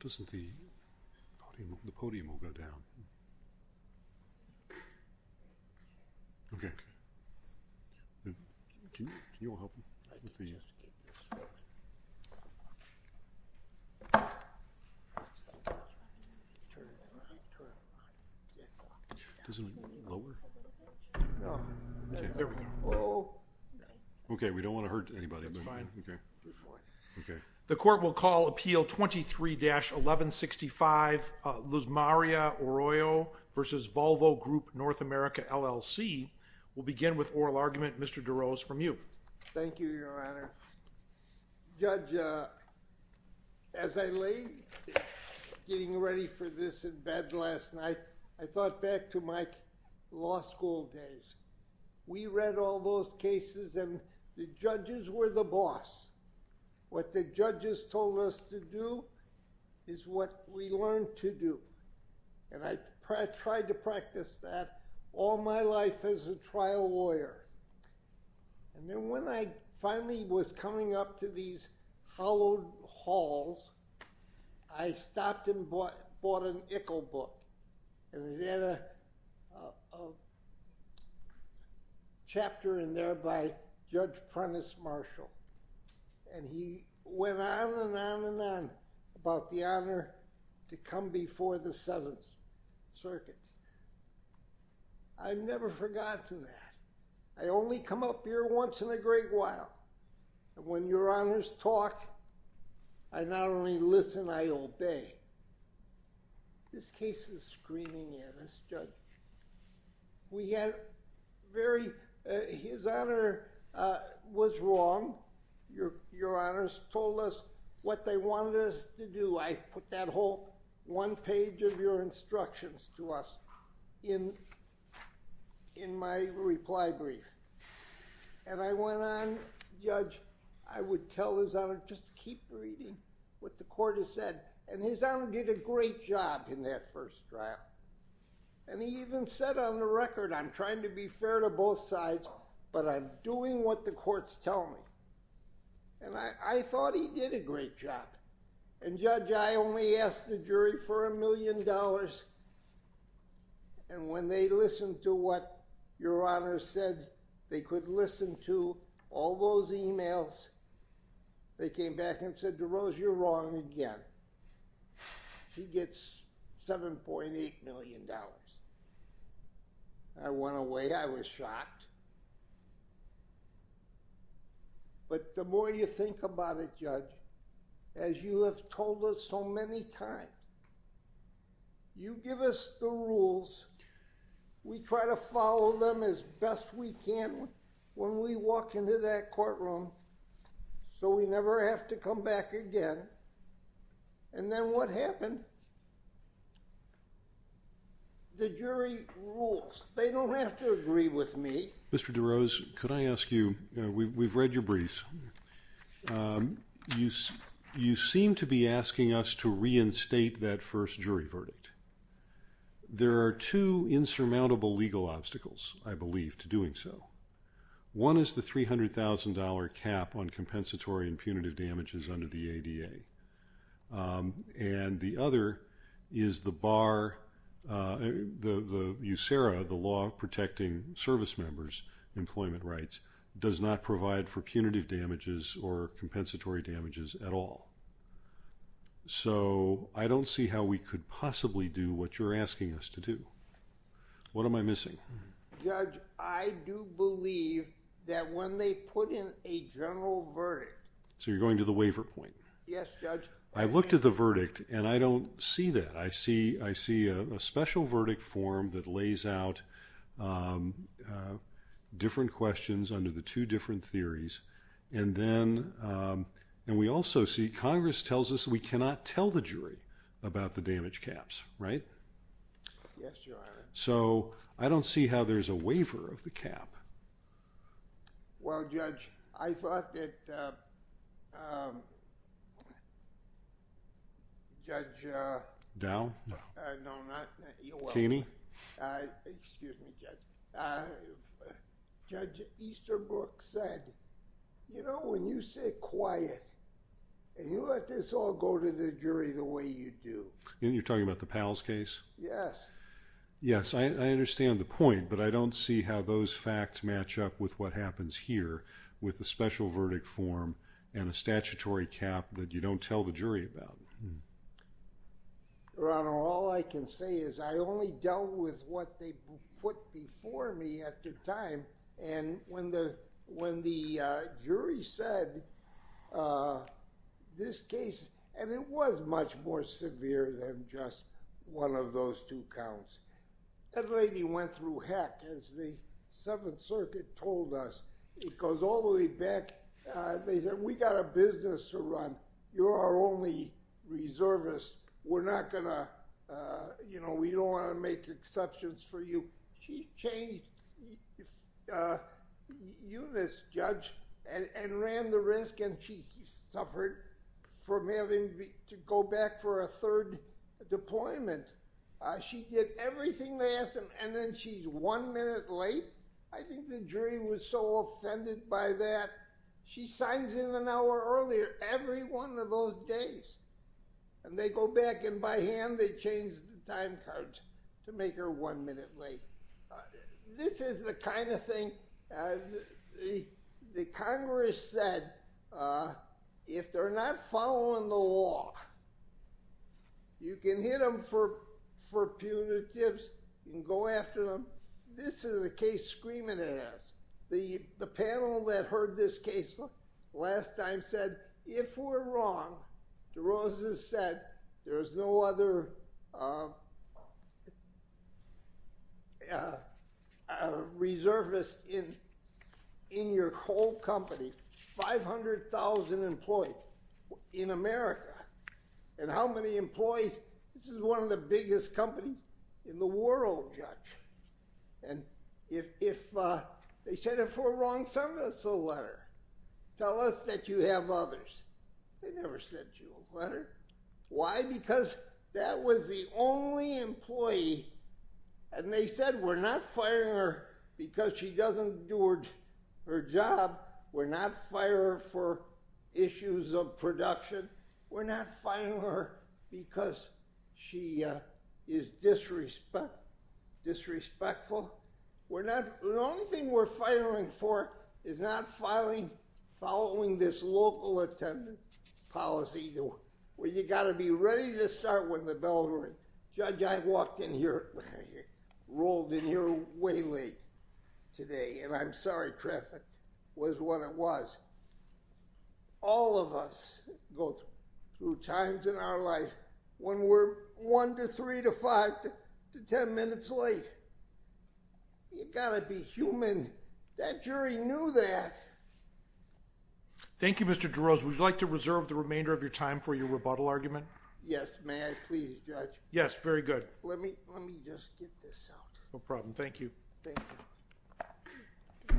Doesn't the podium, the podium will go down. Okay. Okay. The court will call appeal 23-1165, Luzmaria Arroyo v. Volvo Group North America, LLC. We'll begin with oral argument, Mr. DeRose, from you. Thank you, Your Honor. Judge, as I lay getting ready for this in bed last night, I thought back to my law school days. We read all those cases, and the judges were the boss. What the judges told us to do is what we learned to do, and I tried to practice that all my life as a trial lawyer. And then when I finally was coming up to these hallowed halls, I stopped and bought an Ickle book, and it had a chapter in there by Judge Prentice Marshall, and he went on and on and on about the honor to come before the Seventh Circuit. I've never forgotten that. I only come up here once in a great while, and when Your Honors talk, I not only listen, I obey. This case is screaming at us, Judge. We had very... His Honor was wrong. Your Honors told us what they wanted us to do. I put that whole one page of your instructions to us in my reply brief. And I went on, Judge, I would tell His Honor, just keep reading what the court has said, and His Honor did a great job in that first trial. And he even said on the record, I'm trying to be fair to both sides, but I'm doing what the courts tell me. And I thought he did a great job. And, Judge, I only asked the jury for a million dollars, and when they listened to what Your Honors said, they could listen to all those emails, they came back and said, DeRose, you're wrong again. She gets $7.8 million. I went away. I was shocked. But the more you think about it, Judge, as you have told us so many times, you give us the rules, we try to follow them as best we can when we walk into that courtroom so we never have to come back again. And then what happened? The jury rules. They don't have to agree with me. Mr. DeRose, could I ask you, we've read your briefs, you seem to be asking us to reinstate that first jury verdict. There are two insurmountable legal obstacles, I believe, to doing so. One is the $300,000 cap on compensatory and punitive damages under the ADA. And the other is the bar, the USERRA, the Law Protecting Service Members' Employment Rights, does not provide for punitive damages or compensatory damages at all. So I don't see how we could possibly do what you're asking us to do. What am I missing? Judge, I do believe that when they put in a general verdict... So you're going to the waiver point? Yes, Judge. I looked at the verdict and I don't see that. I see a special verdict form that lays out different questions under the two different theories. And then we also see Congress tells us we cannot tell the jury about the damage caps, right? Yes, Your Honor. So I don't see how there's a waiver of the cap. Well, Judge, I thought that Judge... Dow? No, not... Kaney? Excuse me, Judge. Judge Easterbrook said, you know, when you sit quiet and you let this all go to the jury the way you do... And you're talking about the Powell's case? Yes. Yes, I understand the point, but I don't see how those facts match up with what happens here with a special verdict form and a statutory cap that you don't tell the jury about. And when the jury said this case... And it was much more severe than just one of those two counts. That lady went through heck, as the Seventh Circuit told us. It goes all the way back. They said, we got a business to run. You're our only reservist. We're not going to... You know, we don't want to make exceptions for you. She changed Eunice, Judge, and ran the risk, and she suffered from having to go back for a third deployment. She did everything they asked of her, and then she's one minute late? I think the jury was so offended by that. She signs in an hour earlier every one of those days. And they go back, and by hand, they change the time cards to make her one minute late. This is the kind of thing... The Congress said, if they're not following the law, you can hit them for punitives, you can go after them. This is a case screaming at us. The panel that heard this case last time said, if we're wrong, DeRosa said, there's no other reservist in your whole company. 500,000 employees in America. And how many employees? This is one of the biggest companies in the world, Judge. And if they said if we're wrong, send us a letter. Tell us that you have others. They never sent you a letter. Why? Because that was the only employee. And they said, we're not firing her because she doesn't do her job. We're not firing her for issues of production. We're not firing her because she is disrespectful. The only thing we're firing for is not following this local attendant policy where you've got to be ready to start when the bell rings. Judge, I walked in here, rolled in here way late today, and I'm sorry traffic was what it was. All of us go through times in our life when we're one to three to five to ten minutes late. You've got to be human. That jury knew that. Thank you, Mr. DeRosa. Would you like to reserve the remainder of your time for your rebuttal argument? Yes, may I please, Judge? Yes, very good. Let me just get this out. No problem. Thank you. Thank you.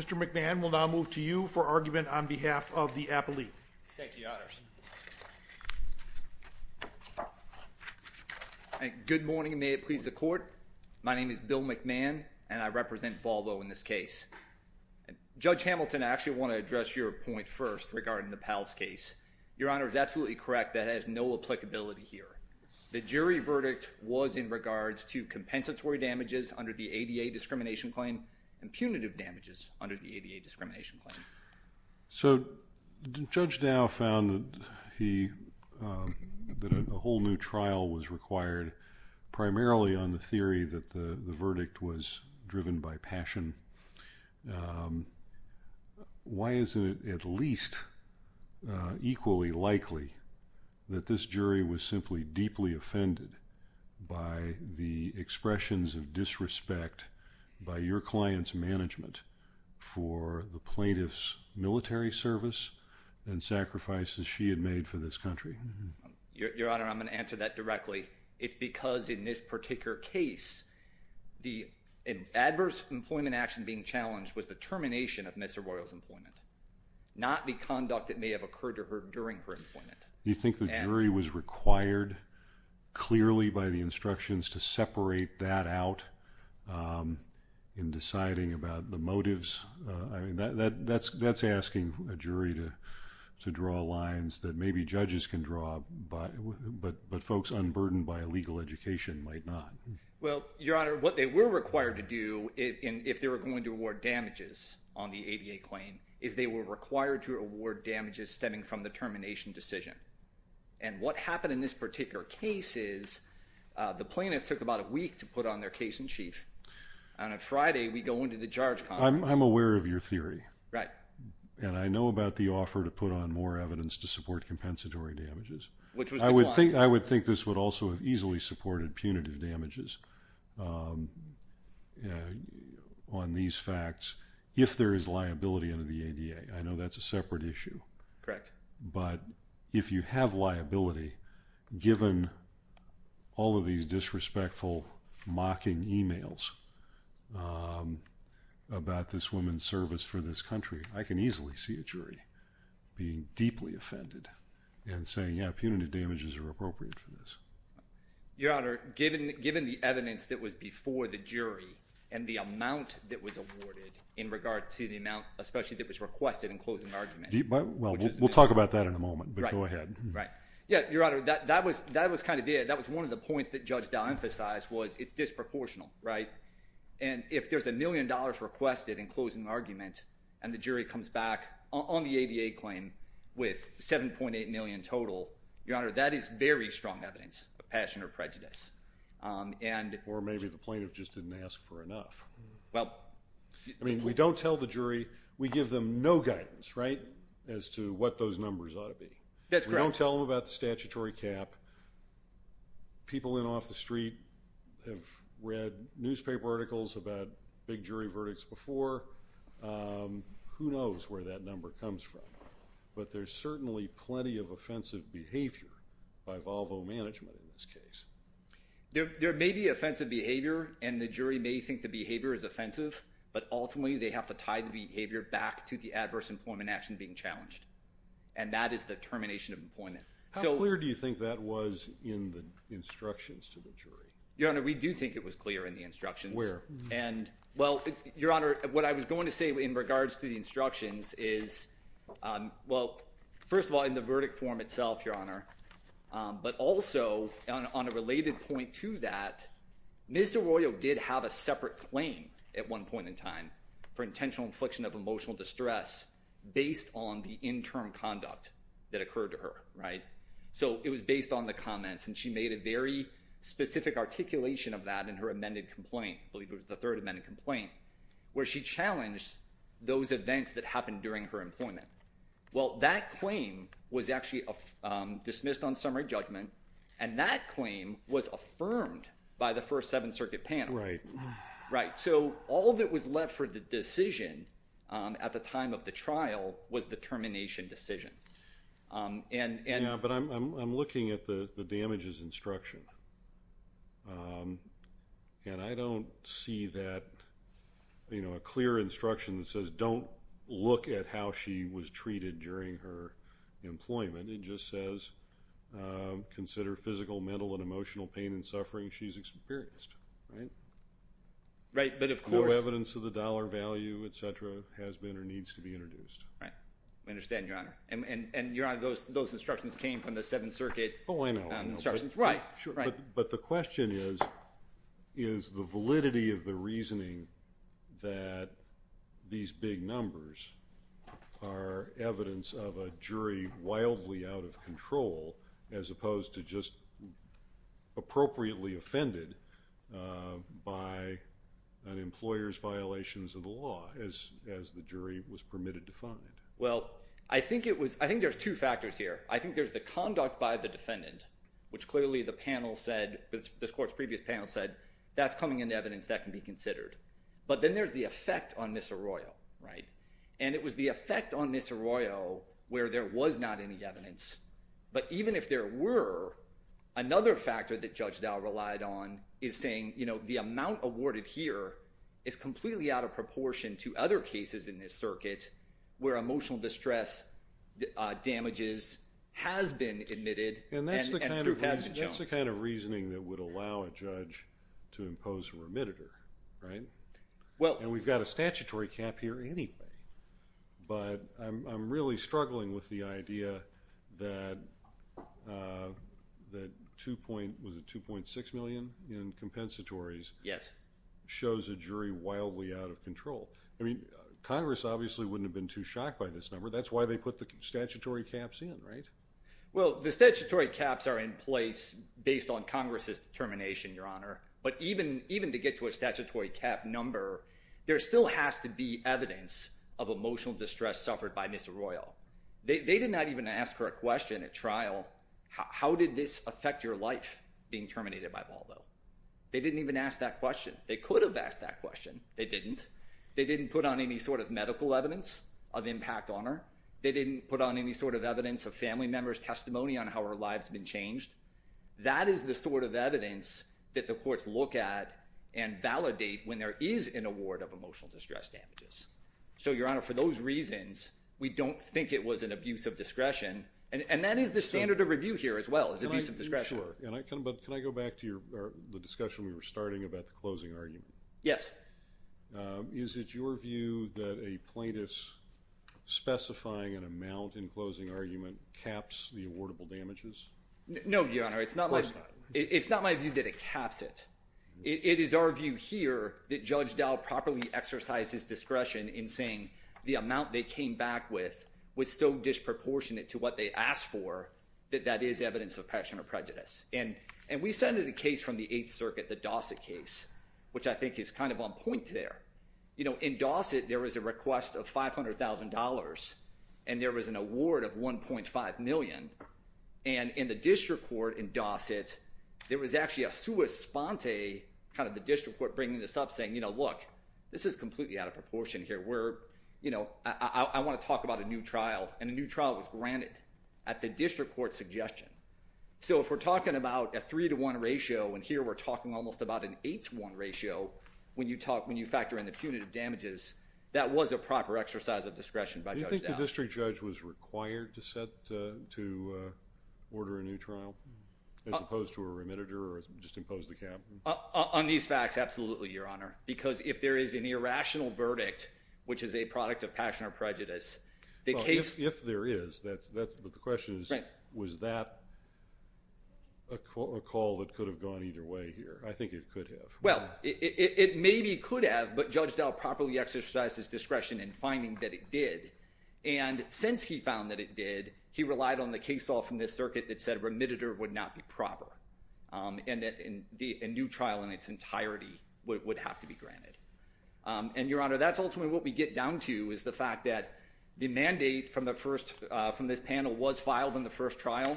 Mr. McMahon will now move to you for argument on behalf of the appellee. Thank you, Your Honors. Good morning, and may it please the court. My name is Bill McMahon, and I represent Volvo in this case. Judge Hamilton, I actually want to address your point first regarding the Powell's case. Your Honor is absolutely correct. That has no applicability. The jury verdict was in regards to compensatory damages under the ADA discrimination claim and punitive damages under the ADA discrimination claim. So Judge Dow found that a whole new trial was required primarily on the theory that the verdict was driven by passion. Why is it at least equally likely that this jury was simply deeply offended by the expressions of disrespect by your client's management for the plaintiff's military service and sacrifices she had made for this country? Your Honor, I'm going to answer that directly. It's because in this particular case, the adverse employment action being challenged was the termination of Ms. Arroyo's employment, not the conduct that may have occurred to her during her employment. You think the jury was required clearly by the instructions to separate that out in deciding about the motives? I mean, that's asking a jury to draw lines that maybe judges can draw, but folks unburdened by legal education might not. Well, Your Honor, what they were required to do, if they were going to award damages on the ADA claim, is they were required to award damages stemming from the termination decision. And what happened in this particular case is the plaintiff took about a week to put on their case in chief. And on Friday, we go into the judge conference. I'm aware of your theory. Right. And I know about the offer to put on more evidence to support compensatory damages. I would think this would also have easily supported punitive damages on these facts if there is liability under the ADA. I know that's a separate issue. Correct. But if you have liability, given all of these disrespectful, mocking emails about this woman's service for this country, I can easily see a jury being deeply offended and saying, yeah, punitive damages are appropriate for this. Your Honor, given the evidence that was before the jury and the amount that was awarded in regard to the amount, especially that was requested in closing argument. Well, we'll talk about that in a moment, but go ahead. Right. Yeah. Your Honor, that was kind of there. That was one of the points that Judge Dow emphasized was it's disproportional. Right. And if there's a million dollars requested in closing argument and the jury comes back on the ADA claim with 7.8 million total, Your Honor, that is very strong evidence of passion or prejudice. Or maybe the plaintiff just didn't ask for enough. Well. I mean, we don't tell the jury. We give them no guidance, right, as to what those numbers ought to be. That's correct. We don't tell them about the statutory cap. People in and off the street have read newspaper articles about big jury verdicts before. Who knows where that number comes from. But there's certainly plenty of offensive behavior by Volvo Management in this case. There may be offensive behavior and the jury may think the behavior is offensive, but ultimately they have to tie the behavior back to the adverse employment action being challenged. And that is the termination of employment. How clear do you think that was in the instructions to the jury? Your Honor, we do think it was clear in the instructions. Where? And, well, Your Honor, what I was going to say in regards to the instructions is, well, first of all, in the verdict form itself, Your Honor, but also on a related point to that, Ms. Arroyo did have a separate claim at one point in time for intentional infliction of emotional distress based on the interim conduct that occurred to her. Right. So it was based on the comments and she made a very specific articulation of that in her amended complaint. I believe it was the third amended complaint where she challenged those events that happened during her employment. Well, that claim was actually dismissed on summary judgment and that claim was affirmed by the First Seventh Circuit panel. Right. Right. So all that was left for the decision at the time of the trial was the termination decision. Yeah, but I'm looking at the damages instruction. And I don't see that, you know, a clear instruction that says don't look at how she was treated during her employment. It just says consider physical, mental, and emotional pain and suffering she's experienced. Right. Right, but of course. No evidence of the dollar value, et cetera, has been or needs to be introduced. Right. I understand, Your Honor. And, Your Honor, those instructions came from the Seventh Circuit. Oh, I know. But the question is, is the validity of the reasoning that these big numbers are evidence of a jury wildly out of control as opposed to just appropriately offended by an employer's violations of the law as the jury was permitted to find? Well, I think it was. I think there's two factors here. I think there's the conduct by the defendant, which clearly the panel said, this court's previous panel said, that's coming into evidence that can be considered. But then there's the effect on Ms. Arroyo. Right. And it was the effect on Ms. Arroyo where there was not any evidence. But even if there were, another factor that Judge Dow relied on is saying, you know, the amount awarded here is completely out of proportion to other cases in this circuit where emotional distress damages has been admitted and proof has been shown. And that's the kind of reasoning that would allow a judge to impose a remitter, right? Well. And we've got a statutory cap here anyway. But I'm really struggling with the idea that 2.6 million in compensatories. Yes. Shows a jury wildly out of control. I mean, Congress obviously wouldn't have been too shocked by this number. That's why they put the statutory caps in, right? Well, the statutory caps are in place based on Congress's determination, Your Honor. But even, even to get to a statutory cap number, there still has to be evidence of emotional distress suffered by Ms. Arroyo. They did not even ask her a question at trial. How did this affect your life being terminated by Baldo? They didn't even ask that question. They could have asked that question. They didn't. They didn't put on any sort of medical evidence of impact on her. They didn't put on any sort of evidence of family members' testimony on how her life's been changed. That is the sort of evidence that the courts look at and validate when there is an award of emotional distress damages. So, Your Honor, for those reasons, we don't think it was an abuse of discretion. And that is the standard of review here as well, is abuse of discretion. Can I go back to the discussion we were starting about the closing argument? Yes. Is it your view that a plaintiff's specifying an amount in closing argument caps the awardable damages? No, Your Honor. Of course not. It's not my view that it caps it. It is our view here that Judge Dow properly exercises discretion in saying the amount they came back with was so disproportionate to what they asked for that that is evidence of passion or prejudice. And we send a case from the Eighth Circuit, the Dossett case, which I think is kind of on point there. In Dossett, there was a request of $500,000 and there was an award of $1.5 million. And in the district court in Dossett, there was actually a sua sponte, kind of the district court bringing this up saying, look, this is completely out of proportion here. I want to talk about a new trial. And a new trial was granted at the district court suggestion. So if we're talking about a three to one ratio, and here we're talking almost about an eight to one ratio, when you talk, when you factor in the punitive damages, that was a proper exercise of discretion by Judge Dow. Do you think the district judge was required to set, to order a new trial as opposed to a remitter or just impose the cap? On these facts, absolutely, Your Honor, because if there is an irrational verdict, which is a product of passion or prejudice, the case. If there is, that's, that's, but the question is, was that a call that could have gone either way here? I think it could have. Well, it maybe could have, but Judge Dow properly exercised his discretion in finding that it did. And since he found that it did, he relied on the case all from this circuit that said remitted or would not be proper. And that in the new trial in its entirety would have to be granted. And Your Honor, that's ultimately what we get down to is the fact that the mandate from the first, from this panel was filed in the first trial.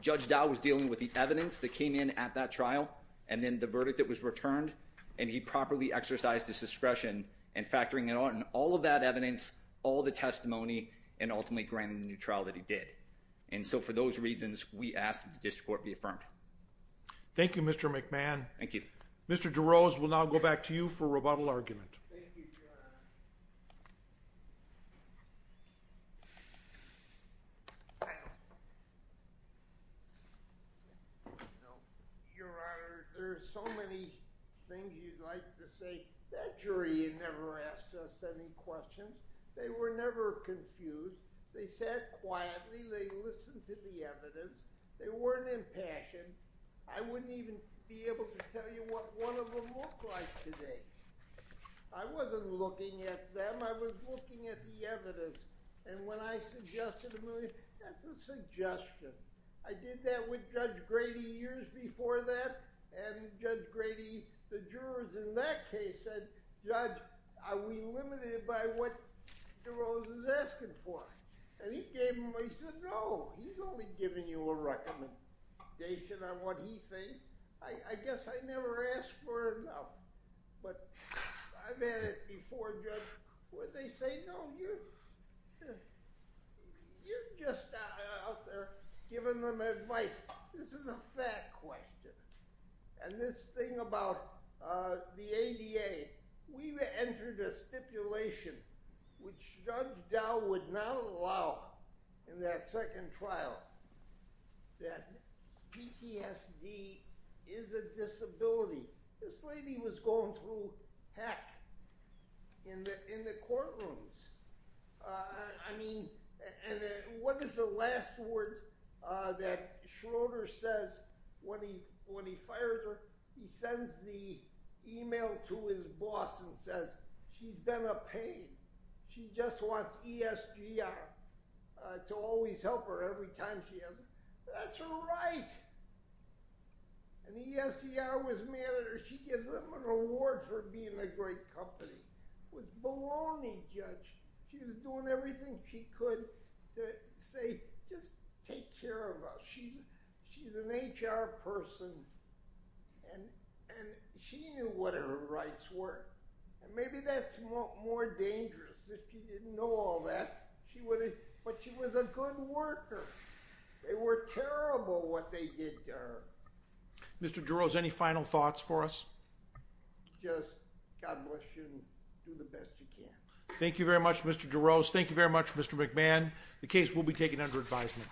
Judge Dow was dealing with the evidence that came in at that trial. And then the verdict that was returned and he properly exercised his discretion and factoring it on all of that evidence, all the testimony and ultimately granted the new trial that he did. And so for those reasons, we asked that the district court be affirmed. Thank you, Mr. McMahon. Thank you. Mr. DeRose will now go back to you for rebuttal argument. Thank you, Your Honor. I don't know. Your Honor, there's so many things you'd like to say that jury and never asked us any questions. They were never confused. They said quietly, they listened to the evidence. They weren't in passion. I wouldn't even be able to tell you what one of them look like today. I wasn't looking at them. I was looking at the evidence. And when I suggested a million, that's a suggestion. I did that with judge Grady years before that. And judge Grady, the jurors in that case said, judge, are we limited by what DeRose is asking for? And he gave them, he said, no, he's only giving you a recommendation on what he thinks. I guess I never asked for enough, but I've had it before judge. What'd they say? No, you're just out there giving them advice. This is a fact question. And this thing about the ADA, we entered a stipulation, which judge Dow would not allow in that second trial, that PTSD is a disability. This lady was going through heck in the, in the courtrooms. I mean, and what is the last word that Schroeder says when he, when he fired her, he sends the email to his boss and says, she's been a pain. She just wants ESG to always help her every time she has. That's right. And he asked me, I was mad at her. She gives them an award for being a great company was baloney judge. She was doing everything. She could say, just take care of us. She, she's an HR person and, and she knew what her rights were. And maybe that's more dangerous. If she didn't know all that she would, but she was a good worker. They were terrible. What they did to her. Mr. Duros, any final thoughts for us? Just God bless you. Do the best you can. Thank you very much, Mr. Duros. Thank you very much, Mr. McMahon. The case will be taken under advisement.